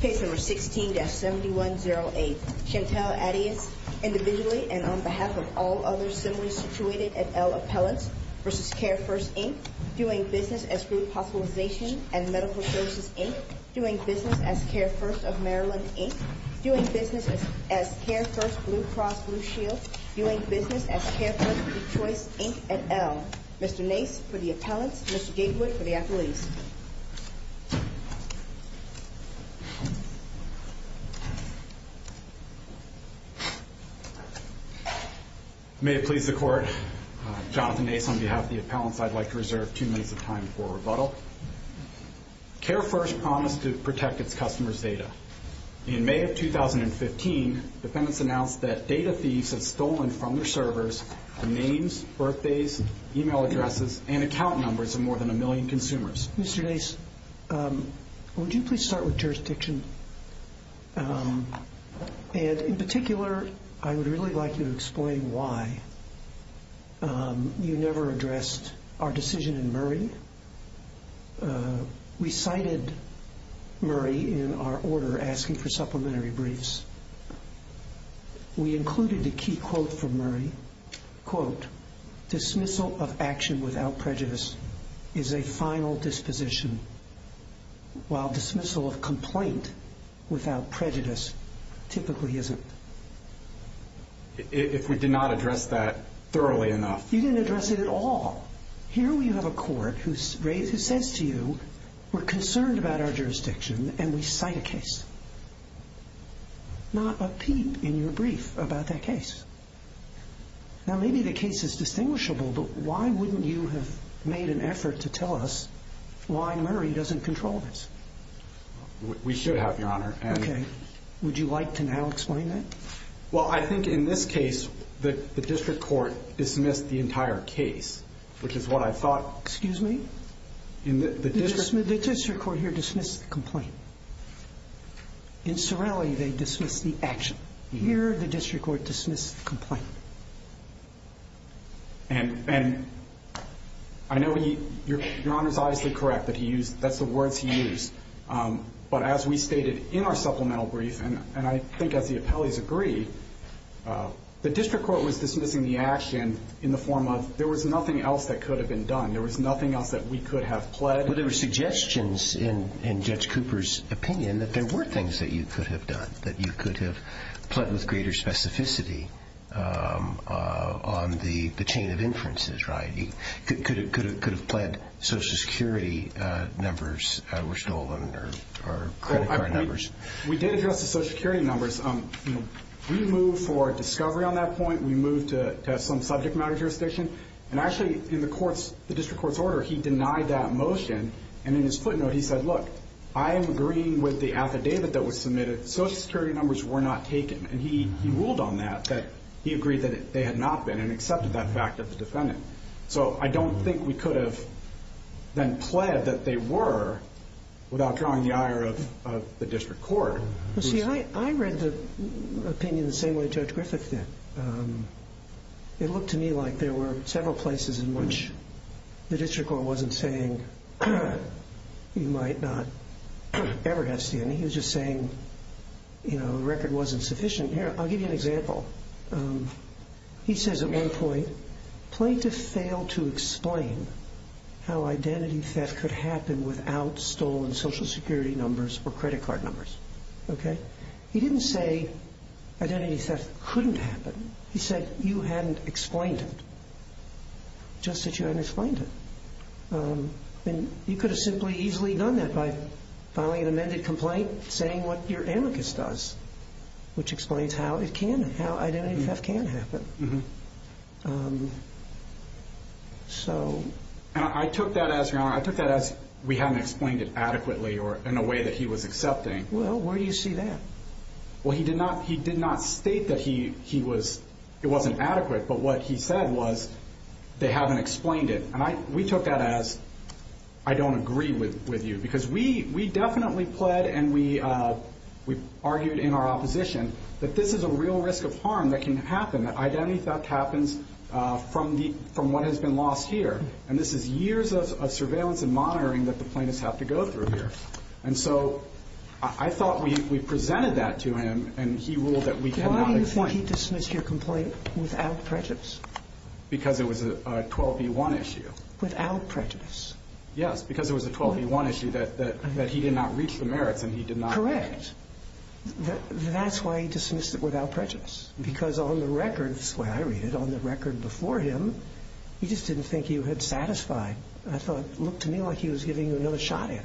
Case No. 16-7108. Chantal Attias, individually and on behalf of all others similarly situated at L Appellants v. CareFirst, Inc., doing business as Group Hospitalization and Medical Services, Inc., doing business as CareFirst of Maryland, Inc., doing business as CareFirst Blue Cross Blue Shield, doing business as CareFirst of Choice, Inc. at L. Mr. Nace for the appellants, Mr. Gatewood for the athletes. May it please the Court, Jonathan Nace on behalf of the appellants, I'd like to reserve two minutes of time for rebuttal. CareFirst promised to protect its customers' data. In May of 2015, defendants announced that data thieves had stolen from their servers the names, birthdays, email addresses, and account numbers of more than a million consumers. Mr. Nace, would you please start with jurisdiction? And in particular, I would really like you to explain why you never addressed our decision in Murray. We cited Murray in our order asking for supplementary briefs. We included a key quote from Murray. Quote, dismissal of action without prejudice is a final disposition, while dismissal of complaint without prejudice typically isn't. If we did not address that thoroughly enough. You didn't address it at all. Here we have a court who says to you, we're concerned about our jurisdiction, and we cite a case. Not a peep in your brief about that case. Now maybe the case is distinguishable, but why wouldn't you have made an effort to tell us why Murray doesn't control this? We should have, Your Honor. Okay. Would you like to now explain that? Well, I think in this case, the district court dismissed the entire case, which is what I thought. Excuse me? The district court here dismissed the complaint. In Sorelli, they dismissed the action. Here, the district court dismissed the complaint. And I know Your Honor is obviously correct that that's the words he used. But as we stated in our supplemental brief, and I think as the appellees agree, the district court was dismissing the action in the form of, there was nothing else that could have been done. There was nothing else that we could have pled. But there were suggestions in Judge Cooper's opinion that there were things that you could have done, that you could have pled with greater specificity on the chain of inferences, right? Could have pled Social Security numbers were stolen or credit card numbers. We did address the Social Security numbers. We moved for discovery on that point. We moved to some subject matter jurisdiction. And actually, in the district court's order, he denied that motion. And in his footnote, he said, look, I am agreeing with the affidavit that was submitted. Social Security numbers were not taken. And he ruled on that, that he agreed that they had not been and accepted that fact of the defendant. So I don't think we could have then pled that they were without drawing the ire of the district court. Well, see, I read the opinion the same way Judge Griffith did. It looked to me like there were several places in which the district court wasn't saying you might not ever have SDNA. He was just saying, you know, the record wasn't sufficient. Here, I'll give you an example. He says at one point, plaintiff failed to explain how identity theft could happen without stolen Social Security numbers or credit card numbers. Okay? He didn't say identity theft couldn't happen. He said you hadn't explained it, just that you hadn't explained it. And you could have simply easily done that by filing an amended complaint saying what your amicus does, which explains how it can, how identity theft can happen. And I took that as, Your Honor, I took that as we hadn't explained it adequately or in a way that he was accepting. Well, where do you see that? Well, he did not state that he was, it wasn't adequate. But what he said was they haven't explained it. And we took that as, I don't agree with you. Because we definitely pled and we argued in our opposition that this is a real risk of harm that can happen, that identity theft happens from what has been lost here. And this is years of surveillance and monitoring that the plaintiffs have to go through here. And so I thought we presented that to him, and he ruled that we had not explained it. Why do you think he dismissed your complaint without prejudice? Because it was a 12B1 issue. Without prejudice? Yes, because it was a 12B1 issue that he did not reach the merits and he did not. Correct. That's why he dismissed it without prejudice. Because on the records, the way I read it, on the record before him, he just didn't think you had satisfied. I thought, it looked to me like he was giving you another shot at it.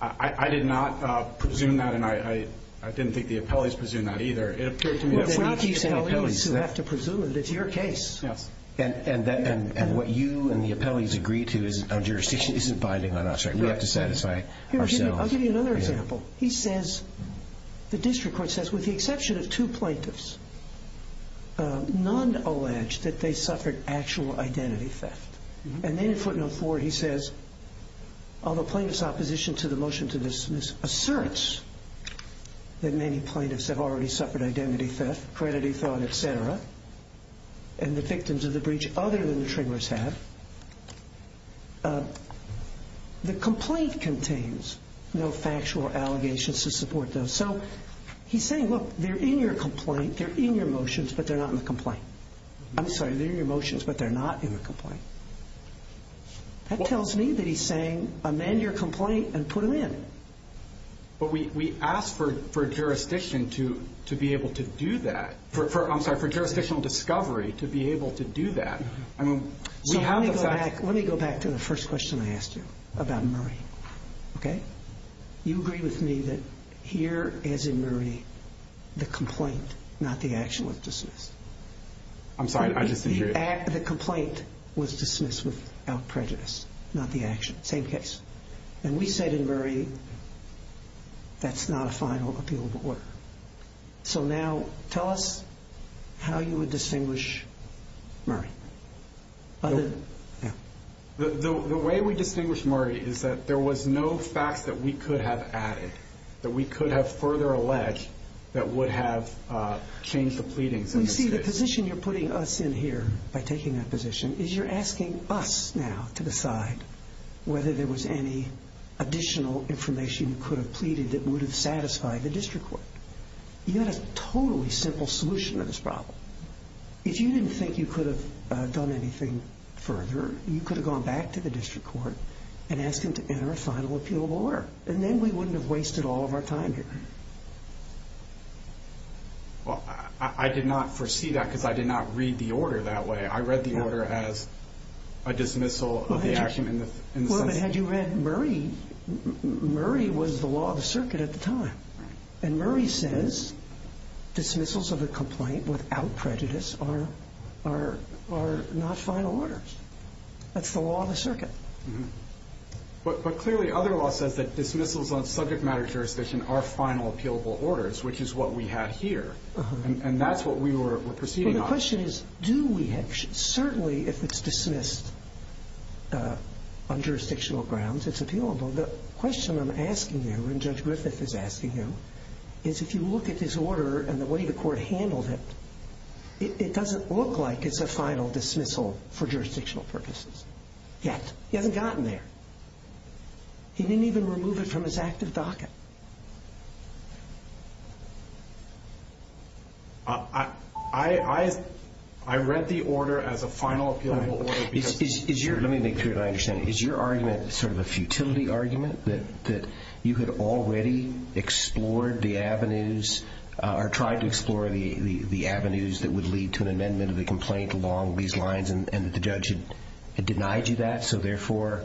I did not presume that, and I didn't think the appellees presumed that either. It's not the appellees who have to presume it. It's your case. And what you and the appellees agree to on jurisdiction isn't binding on us. We have to satisfy ourselves. I'll give you another example. He says, the district court says, with the exception of two plaintiffs, none allege that they suffered actual identity theft. And then in footnote four he says, although plaintiffs' opposition to the motion to dismiss asserts that many plaintiffs have already suffered identity theft, crediting fraud, et cetera, and the victims of the breach other than the triggers have, the complaint contains no factual allegations to support those. So he's saying, look, they're in your complaint, they're in your motions, but they're not in the complaint. I'm sorry, they're in your motions, but they're not in the complaint. That tells me that he's saying, amend your complaint and put them in. But we ask for jurisdiction to be able to do that. I'm sorry, for jurisdictional discovery to be able to do that. So let me go back to the first question I asked you about Murray. You agree with me that here, as in Murray, the complaint, not the actual dismiss. I'm sorry, I just agree. The complaint was dismissed without prejudice, not the action. Same case. And we said in Murray that's not a final appealable order. So now tell us how you would distinguish Murray. The way we distinguish Murray is that there was no facts that we could have added, that we could have further alleged that would have changed the pleadings. You see, the position you're putting us in here, by taking that position, is you're asking us now to decide whether there was any additional information you could have pleaded that would have satisfied the district court. You had a totally simple solution to this problem. If you didn't think you could have done anything further, you could have gone back to the district court and asked them to enter a final appealable order. And then we wouldn't have wasted all of our time here. Well, I did not foresee that because I did not read the order that way. I read the order as a dismissal of the action. Well, but had you read Murray, Murray was the law of the circuit at the time. And Murray says dismissals of a complaint without prejudice are not final orders. That's the law of the circuit. But clearly, other law says that dismissals on subject matter jurisdiction are final appealable orders, which is what we had here. And that's what we were proceeding on. Well, the question is, do we have? Certainly, if it's dismissed on jurisdictional grounds, it's appealable. The question I'm asking you, and Judge Griffith is asking you, is if you look at this order and the way the court handled it, it doesn't look like it's a final dismissal for jurisdictional purposes yet. He hasn't gotten there. He didn't even remove it from his active docket. I read the order as a final appealable order. Let me make sure that I understand. Is your argument sort of a futility argument that you had already explored the avenues or tried to explore the avenues that would lead to an amendment of the complaint along these lines and that the judge had denied you that, so therefore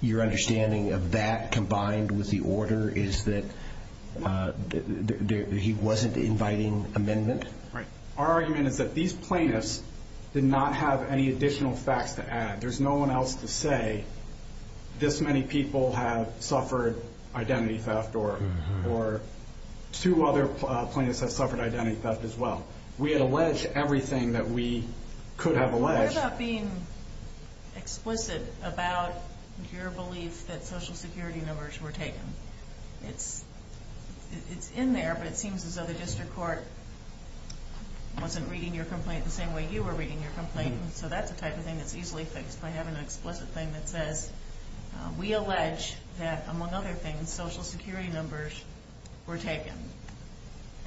your understanding of that combined with the order is that he wasn't inviting amendment? Right. Our argument is that these plaintiffs did not have any additional facts to add. There's no one else to say this many people have suffered identity theft or two other plaintiffs have suffered identity theft as well. We allege everything that we could have alleged. What about being explicit about your belief that Social Security numbers were taken? It's in there, but it seems as though the district court wasn't reading your complaint the same way you were reading your complaint, so that's the type of thing that's easily fixed by having an explicit thing that says, we allege that, among other things, Social Security numbers were taken.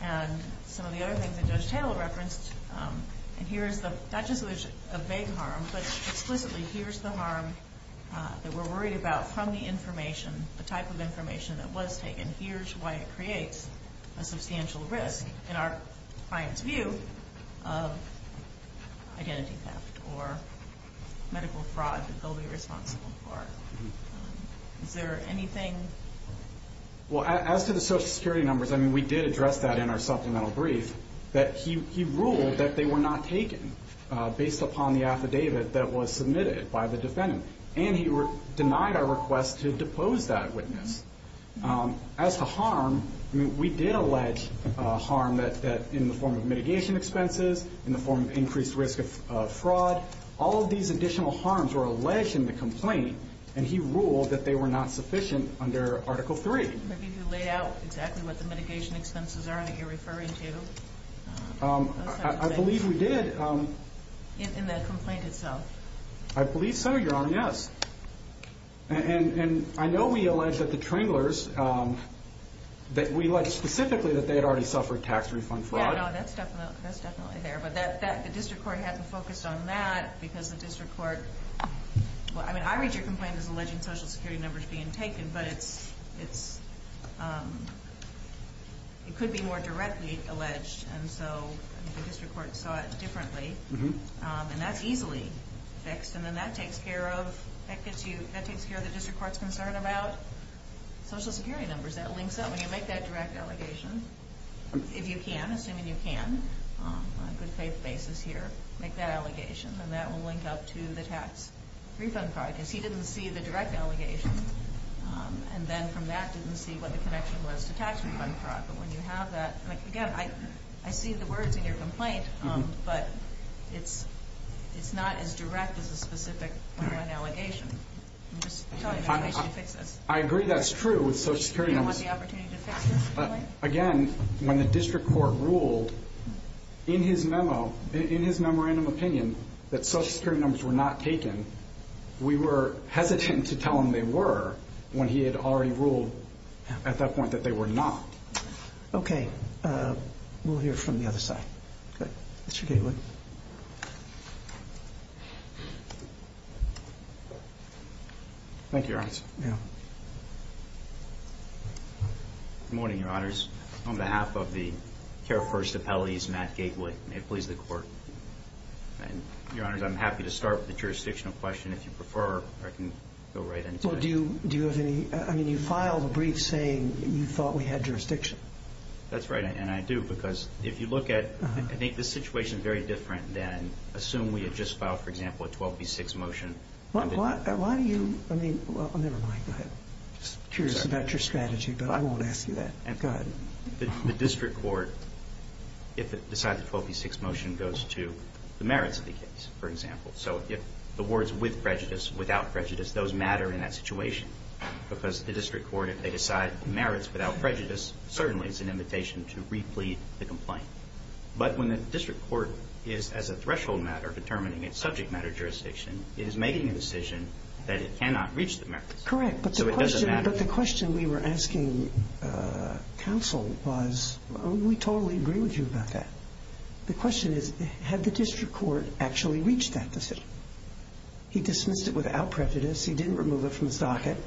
And some of the other things that Judge Taylor referenced, and here's not just a vague harm, but explicitly here's the harm that we're worried about from the information, the type of information that was taken. And here's why it creates a substantial risk in our client's view of identity theft or medical fraud that they'll be responsible for. Is there anything? Well, as to the Social Security numbers, I mean, we did address that in our supplemental brief, that he ruled that they were not taken based upon the affidavit that was submitted by the defendant, and he denied our request to depose that witness. As to harm, we did allege harm in the form of mitigation expenses, in the form of increased risk of fraud. All of these additional harms were alleged in the complaint, and he ruled that they were not sufficient under Article III. Maybe he laid out exactly what the mitigation expenses are that you're referring to. I believe we did. In the complaint itself. I believe so, Your Honor, yes. And I know we allege that the Tringlers, that we allege specifically that they had already suffered tax refund fraud. Yeah, no, that's definitely there. But the district court hadn't focused on that because the district court, well, I mean, I read your complaint as alleging Social Security numbers being taken, but it could be more directly alleged, and so the district court saw it differently. And that's easily fixed. And then that takes care of the district court's concern about Social Security numbers. That links up. When you make that direct allegation, if you can, assuming you can, on a good faith basis here, make that allegation, and that will link up to the tax refund fraud. Because he didn't see the direct allegation, and then from that didn't see what the connection was to tax refund fraud. But when you have that, again, I see the words in your complaint, but it's not as direct as a specific complaint allegation. I'm just telling you that we should fix this. I agree that's true with Social Security numbers. You don't want the opportunity to fix this complaint? Again, when the district court ruled in his memo, in his memorandum opinion, that Social Security numbers were not taken, we were hesitant to tell him they were when he had already ruled at that point that they were not. Okay. We'll hear from the other side. Good. Mr. Gatewood. Thank you, Your Honor. Yeah. Good morning, Your Honors. On behalf of the Care First Appellees, Matt Gatewood. May it please the Court. Your Honors, I'm happy to start with the jurisdictional question if you prefer, or I can go right into it. Do you have any – I mean, you filed a brief saying you thought we had jurisdiction. That's right, and I do, because if you look at – I think this situation is very different than – assume we had just filed, for example, a 12b6 motion. Why do you – I mean – well, never mind. I'm just curious about your strategy, but I won't ask you that. Go ahead. The district court, if it decides a 12b6 motion, goes to the merits of the case, for example. So if the words with prejudice, without prejudice, those matter in that situation, because the district court, if they decide merits without prejudice, certainly it's an invitation to replete the complaint. But when the district court is, as a threshold matter, determining its subject matter jurisdiction, it is making a decision that it cannot reach the merits. Correct. So it doesn't matter. But the question we were asking counsel was, we totally agree with you about that. The question is, had the district court actually reached that decision? He dismissed it without prejudice. He didn't remove it from the socket.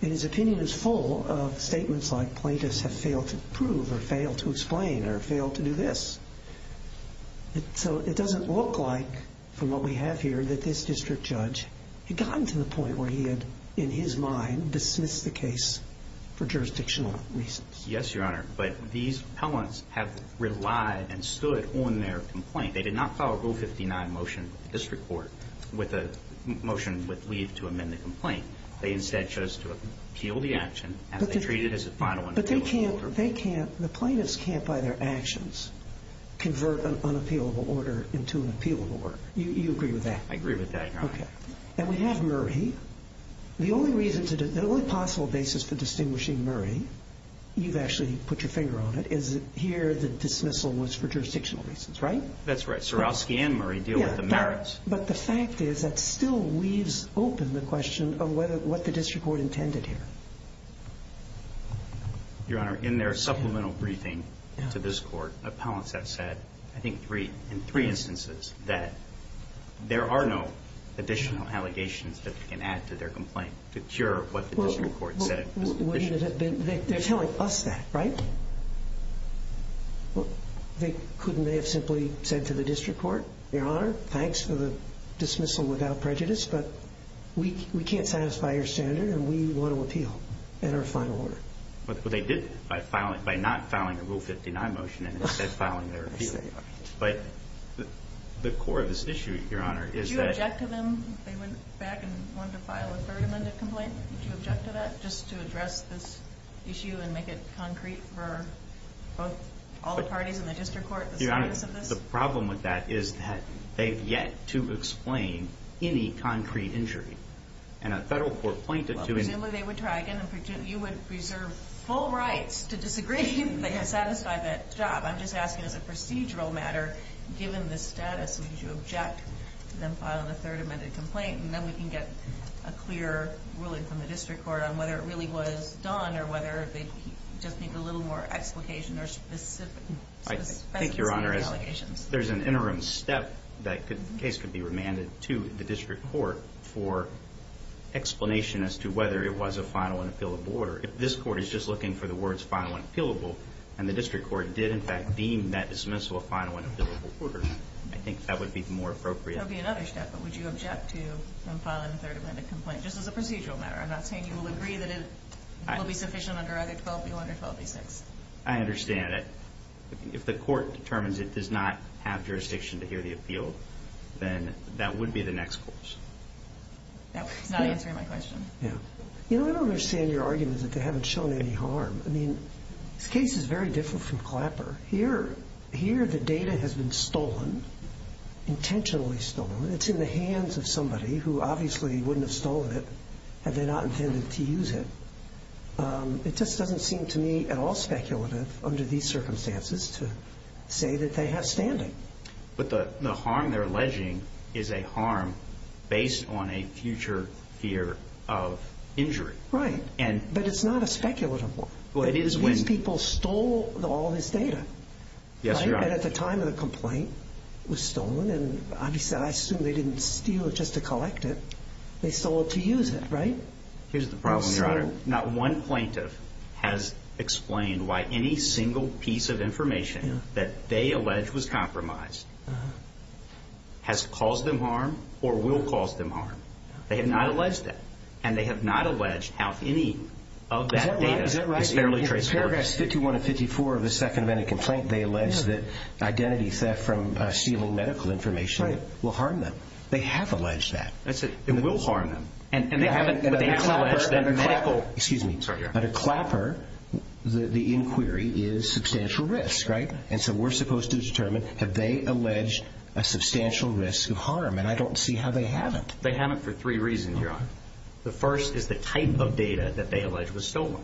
And his opinion is full of statements like plaintiffs have failed to prove or failed to explain or failed to do this. So it doesn't look like, from what we have here, that this district judge had gotten to the point where he had, in his mind, dismissed the case for jurisdictional reasons. Yes, Your Honor. But these appellants have relied and stood on their complaint. They did not follow Rule 59 motion with the district court with a motion with leave to amend the complaint. They instead chose to appeal the action as they treated it as a final one. But they can't, the plaintiffs can't, by their actions, convert an unappealable order into an appealable order. You agree with that? I agree with that, Your Honor. Okay. And we have Murray. The only reason, the only possible basis for distinguishing Murray, you've actually put your finger on it, is that here the dismissal was for jurisdictional reasons, right? That's right. Surowski and Murray deal with the merits. But the fact is that still weaves open the question of what the district court intended here. Your Honor, in their supplemental briefing to this court, appellants have said, I think three, in three instances, that there are no additional allegations that can add to their complaint to cure what the district court said. They're telling us that, right? Couldn't they have simply said to the district court, Your Honor, thanks for the dismissal without prejudice, but we can't satisfy your standard and we want to appeal in our final order. Well, they did by not filing a Rule 59 motion and instead filing their appeal. But the core of this issue, Your Honor, is that Did you object to them? They went back and wanted to file a third amended complaint. Did you object to that? Just to address this issue and make it concrete for all the parties in the district court? Your Honor, the problem with that is that they've yet to explain any concrete injury. And a federal court pointed to Well, presumably they would try again and you would preserve full rights to disagree if they had satisfied that job. I'm just asking as a procedural matter, given the status, would you object to them filing a third amended complaint? And then we can get a clear ruling from the district court on whether it really was done or whether they just need a little more explication or specificity in the allegations. I think, Your Honor, there's an interim step that the case could be remanded to the district court for explanation as to whether it was a final and appealable order. If this court is just looking for the words final and appealable and the district court did in fact deem that dismissal a final and appealable order, I think that would be more appropriate. That would be another step. But would you object to them filing a third amended complaint? Just as a procedural matter. I'm not saying you will agree that it will be sufficient under either 12B1 or 12B6. I understand it. If the court determines it does not have jurisdiction to hear the appeal, then that would be the next course. That's not answering my question. Yeah. You know, I don't understand your argument that they haven't shown any harm. I mean, this case is very different from Clapper. Here the data has been stolen, intentionally stolen. It's in the hands of somebody who obviously wouldn't have stolen it had they not intended to use it. It just doesn't seem to me at all speculative under these circumstances to say that they have standing. But the harm they're alleging is a harm based on a future fear of injury. Right. But it's not a speculative one. Well, it is when. These people stole all this data. Yes, Your Honor. And at the time of the complaint, it was stolen, and I assume they didn't steal it just to collect it. They stole it to use it, right? Here's the problem, Your Honor. Not one plaintiff has explained why any single piece of information that they allege was compromised has caused them harm or will cause them harm. They have not alleged that. And they have not alleged how any of that data is fairly traceable. Is that right? In paragraphs 51 and 54 of the second amendment complaint, they allege that identity theft from stealing medical information will harm them. They have alleged that. It will harm them. And they haven't alleged that medical. Excuse me. Sorry, Your Honor. Under Clapper, the inquiry is substantial risk, right? And so we're supposed to determine have they alleged a substantial risk of harm, and I don't see how they haven't. They haven't for three reasons, Your Honor. The first is the type of data that they allege was stolen,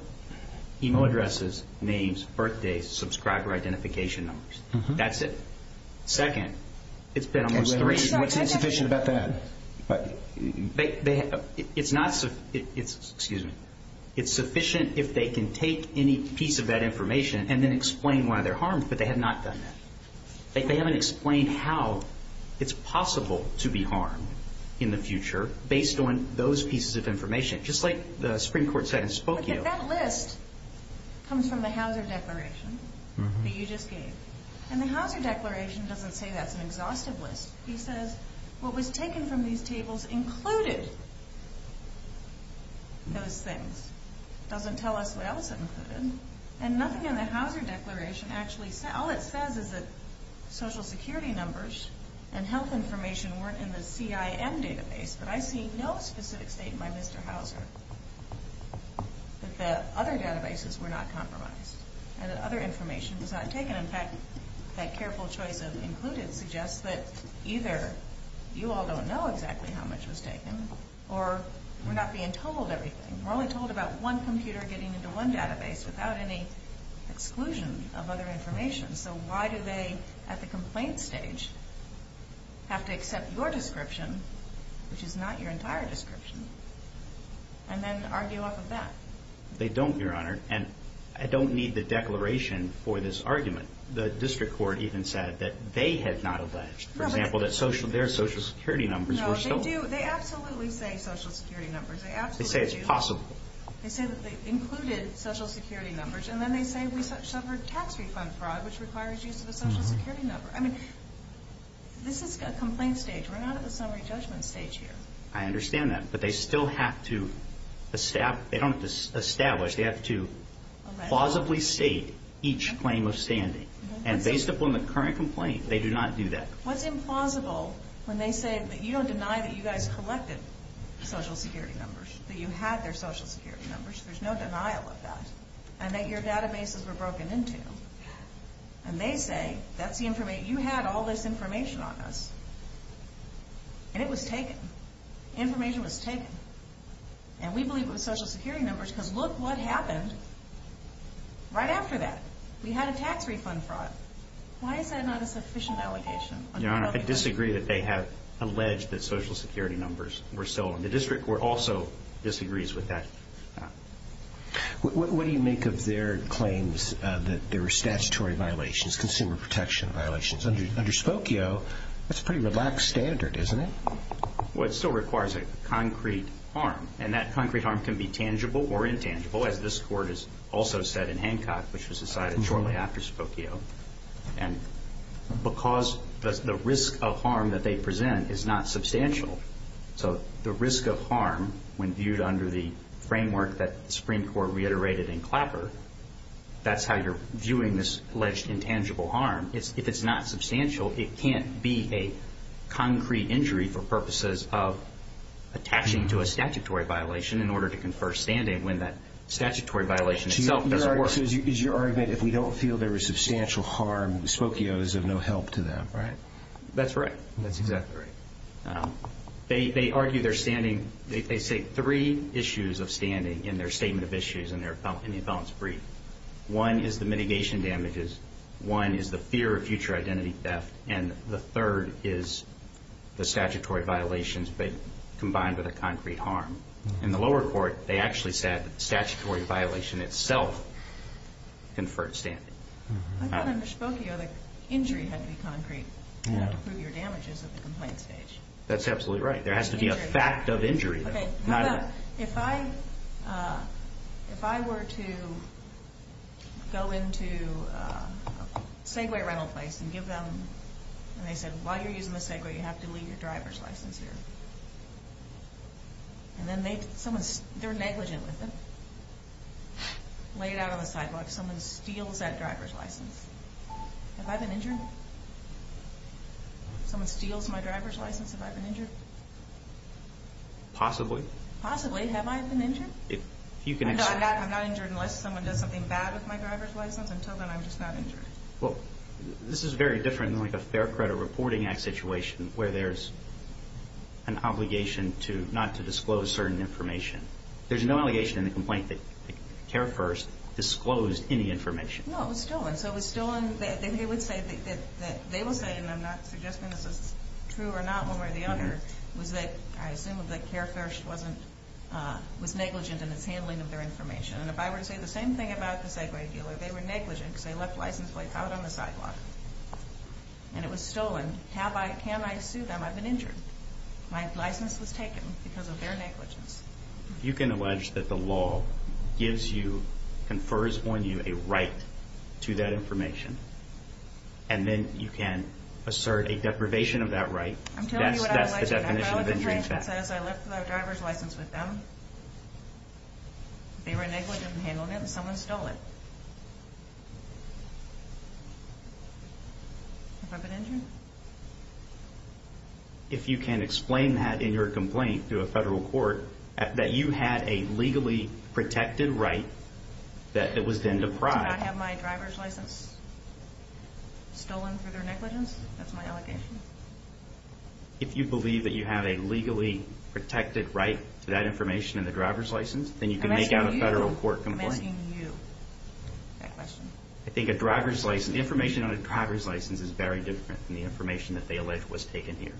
email addresses, names, birthdays, subscriber identification numbers. That's it. Second, it's been almost three years. What's insufficient about that? It's not sufficient. Excuse me. It's sufficient if they can take any piece of that information and then explain why they're harmed, but they have not done that. They haven't explained how it's possible to be harmed in the future based on those pieces of information. Just like the Supreme Court said in Spokane. But that list comes from the Hauser Declaration that you just gave. And the Hauser Declaration doesn't say that's an exhaustive list. It says what was taken from these tables included those things. It doesn't tell us what else it included. And nothing in the Hauser Declaration actually says. All it says is that Social Security numbers and health information weren't in the CIM database. But I see no specific statement by Mr. Hauser that the other databases were not compromised and that other information was not taken. In fact, that careful choice of included suggests that either you all don't know exactly how much was taken or we're not being told everything. We're only told about one computer getting into one database without any exclusion of other information. So why do they, at the complaint stage, have to accept your description, which is not your entire description, and then argue off of that? They don't, Your Honor. And I don't need the declaration for this argument. The district court even said that they had not alleged, for example, that their Social Security numbers were stolen. No, they do. They absolutely say Social Security numbers. They absolutely do. They say it's possible. They say that they included Social Security numbers. And then they say we suffered tax refund fraud, which requires use of a Social Security number. I mean, this is a complaint stage. We're not at the summary judgment stage here. I understand that. But they still have to establish. They don't have to establish. They have to plausibly state each claim of standing. And based upon the current complaint, they do not do that. What's implausible when they say that you don't deny that you guys collected Social Security numbers, that you had their Social Security numbers? There's no denial of that. And that your databases were broken into. And they say that's the information. You had all this information on us. And it was taken. Information was taken. And we believe it was Social Security numbers because look what happened right after that. We had a tax refund fraud. Why is that not a sufficient allegation? Your Honor, I disagree that they have alleged that Social Security numbers were stolen. The district court also disagrees with that. What do you make of their claims that there were statutory violations, consumer protection violations? Under Spokio, that's a pretty relaxed standard, isn't it? Well, it still requires a concrete harm. And that concrete harm can be tangible or intangible, as this court has also said in Hancock, which was decided shortly after Spokio. And because the risk of harm that they present is not substantial. So the risk of harm, when viewed under the framework that the Supreme Court reiterated in Clapper, that's how you're viewing this alleged intangible harm. If it's not substantial, it can't be a concrete injury for purposes of attaching to a statutory violation in order to confer standing when that statutory violation itself doesn't work. So is your argument, if we don't feel there was substantial harm, Spokio is of no help to them, right? That's right. That's exactly right. They argue they're standing. They say three issues of standing in their statement of issues in the balance brief. One is the mitigation damages. One is the fear of future identity theft. And the third is the statutory violations combined with a concrete harm. In the lower court, they actually said that the statutory violation itself conferred standing. I thought under Spokio the injury had to be concrete to prove your damages at the complaint stage. That's absolutely right. There has to be a fact of injury. If I were to go into a Segway rental place and give them, and they said, while you're using the Segway, you have to leave your driver's license here. And they're negligent with it. Lay it out on the sidewalk. Someone steals that driver's license. Have I been injured? Someone steals my driver's license. Have I been injured? Possibly. Possibly. Have I been injured? No, I'm not injured unless someone does something bad with my driver's license. Until then, I'm just not injured. Well, this is very different than like a Fair Credit Reporting Act situation where there's an obligation not to disclose certain information. There's no allegation in the complaint that CareFirst disclosed any information. No, it was stolen. So it was stolen. They would say, and I'm not suggesting this is true or not one way or the other, was that I assume that CareFirst was negligent in its handling of their information. And if I were to say the same thing about the Segway dealer, they were negligent because they left a license plate out on the sidewalk. And it was stolen. Can I sue them? I've been injured. My license was taken because of their negligence. You can allege that the law gives you, confers on you, a right to that information. And then you can assert a deprivation of that right. I'm telling you what I allege. That's the definition of injury in fact. I left my driver's license with them. They were negligent in handling it, and someone stole it. Have I been injured? If you can explain that in your complaint to a federal court, that you had a legally protected right that was then deprived. Did I have my driver's license stolen through their negligence? That's my allegation. If you believe that you have a legally protected right to that information and the driver's license, then you can make out a federal court complaint. I'm asking you that question. The information on a driver's license is very different than the information that they allege was taken here.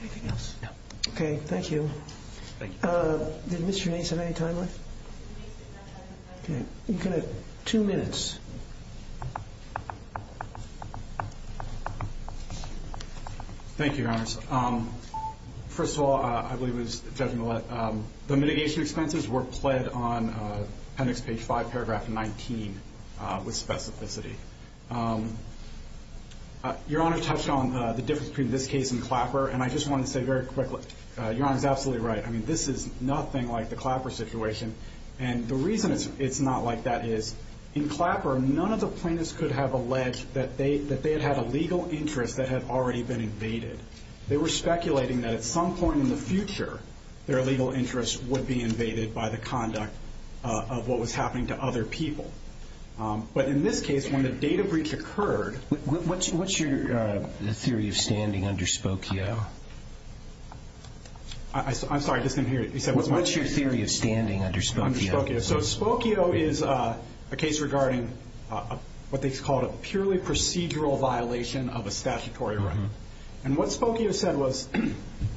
Anything else? No. Okay, thank you. Did Mr. Nace have any time left? Mr. Nace did not have any time left. Okay, you have two minutes. Thank you, Your Honors. First of all, I believe it was Judge Millett, the mitigation expenses were pled on appendix page 5, paragraph 19 with specificity. Your Honor touched on the difference between this case and Clapper, and I just want to say very quickly, Your Honor is absolutely right. This is nothing like the Clapper situation. The reason it's not like that is in Clapper, none of the plaintiffs could have alleged that they had had a legal interest that had already been invaded. They were speculating that at some point in the future, their legal interest would be invaded by the conduct of what was happening to other people. But in this case, when the data breach occurred— What's your— The theory of standing underspoke you. I'm sorry, I just didn't hear you. What's your theory of standing underspoke you? Spokio is a case regarding what they call a purely procedural violation of a statutory right. And what Spokio said was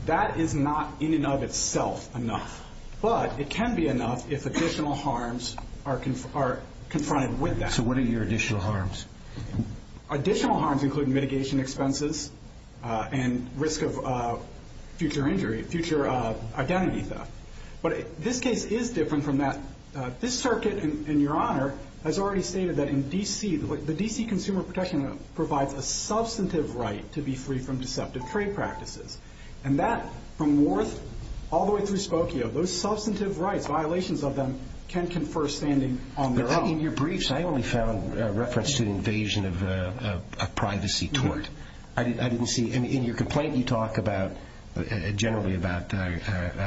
that is not in and of itself enough, but it can be enough if additional harms are confronted with that. So what are your additional harms? Additional harms include mitigation expenses and risk of future injury, future identity theft. But this case is different from that. This circuit, and Your Honor, has already stated that in D.C., the D.C. Consumer Protection Law provides a substantive right to be free from deceptive trade practices. And that, from Worth all the way through Spokio, those substantive rights, violations of them, can confer standing on their own. In your briefs, I only found reference to the invasion of a privacy tort. I didn't see—In your complaint, you talk about— generally about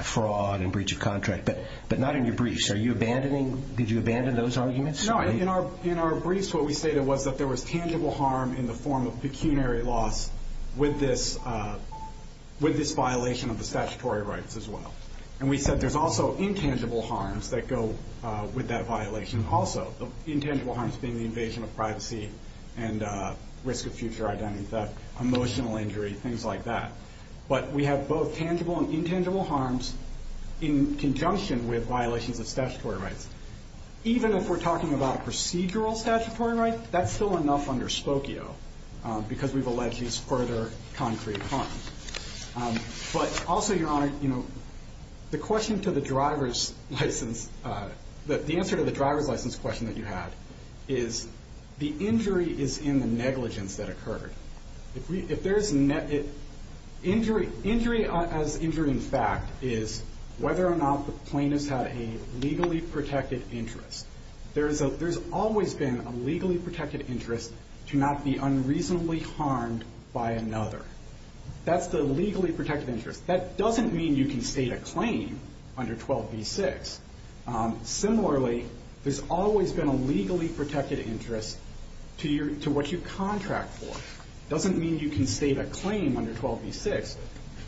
fraud and breach of contract. But not in your briefs. Are you abandoning—Did you abandon those arguments? No. In our briefs, what we stated was that there was tangible harm in the form of pecuniary loss with this violation of the statutory rights as well. And we said there's also intangible harms that go with that violation also. Intangible harms being the invasion of privacy and risk of future identity theft, emotional injury, things like that. But we have both tangible and intangible harms in conjunction with violations of statutory rights. Even if we're talking about a procedural statutory right, that's still enough under Spokio because we've alleged these further concrete harms. But also, Your Honor, you know, the question to the driver's license— the answer to the driver's license question that you had is the injury is in the negligence that occurred. If there's—Injury as injury in fact is whether or not the plaintiff's had a legally protected interest. There's always been a legally protected interest to not be unreasonably harmed by another. That's the legally protected interest. That doesn't mean you can state a claim under 12b-6. Similarly, there's always been a legally protected interest to what you contract for. It doesn't mean you can state a claim under 12b-6.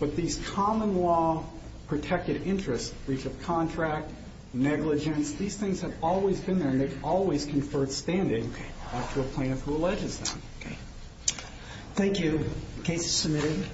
But these common law protected interests, breach of contract, negligence, these things have always been there and they've always conferred standing to a plaintiff who alleges them. Thank you. Case submitted.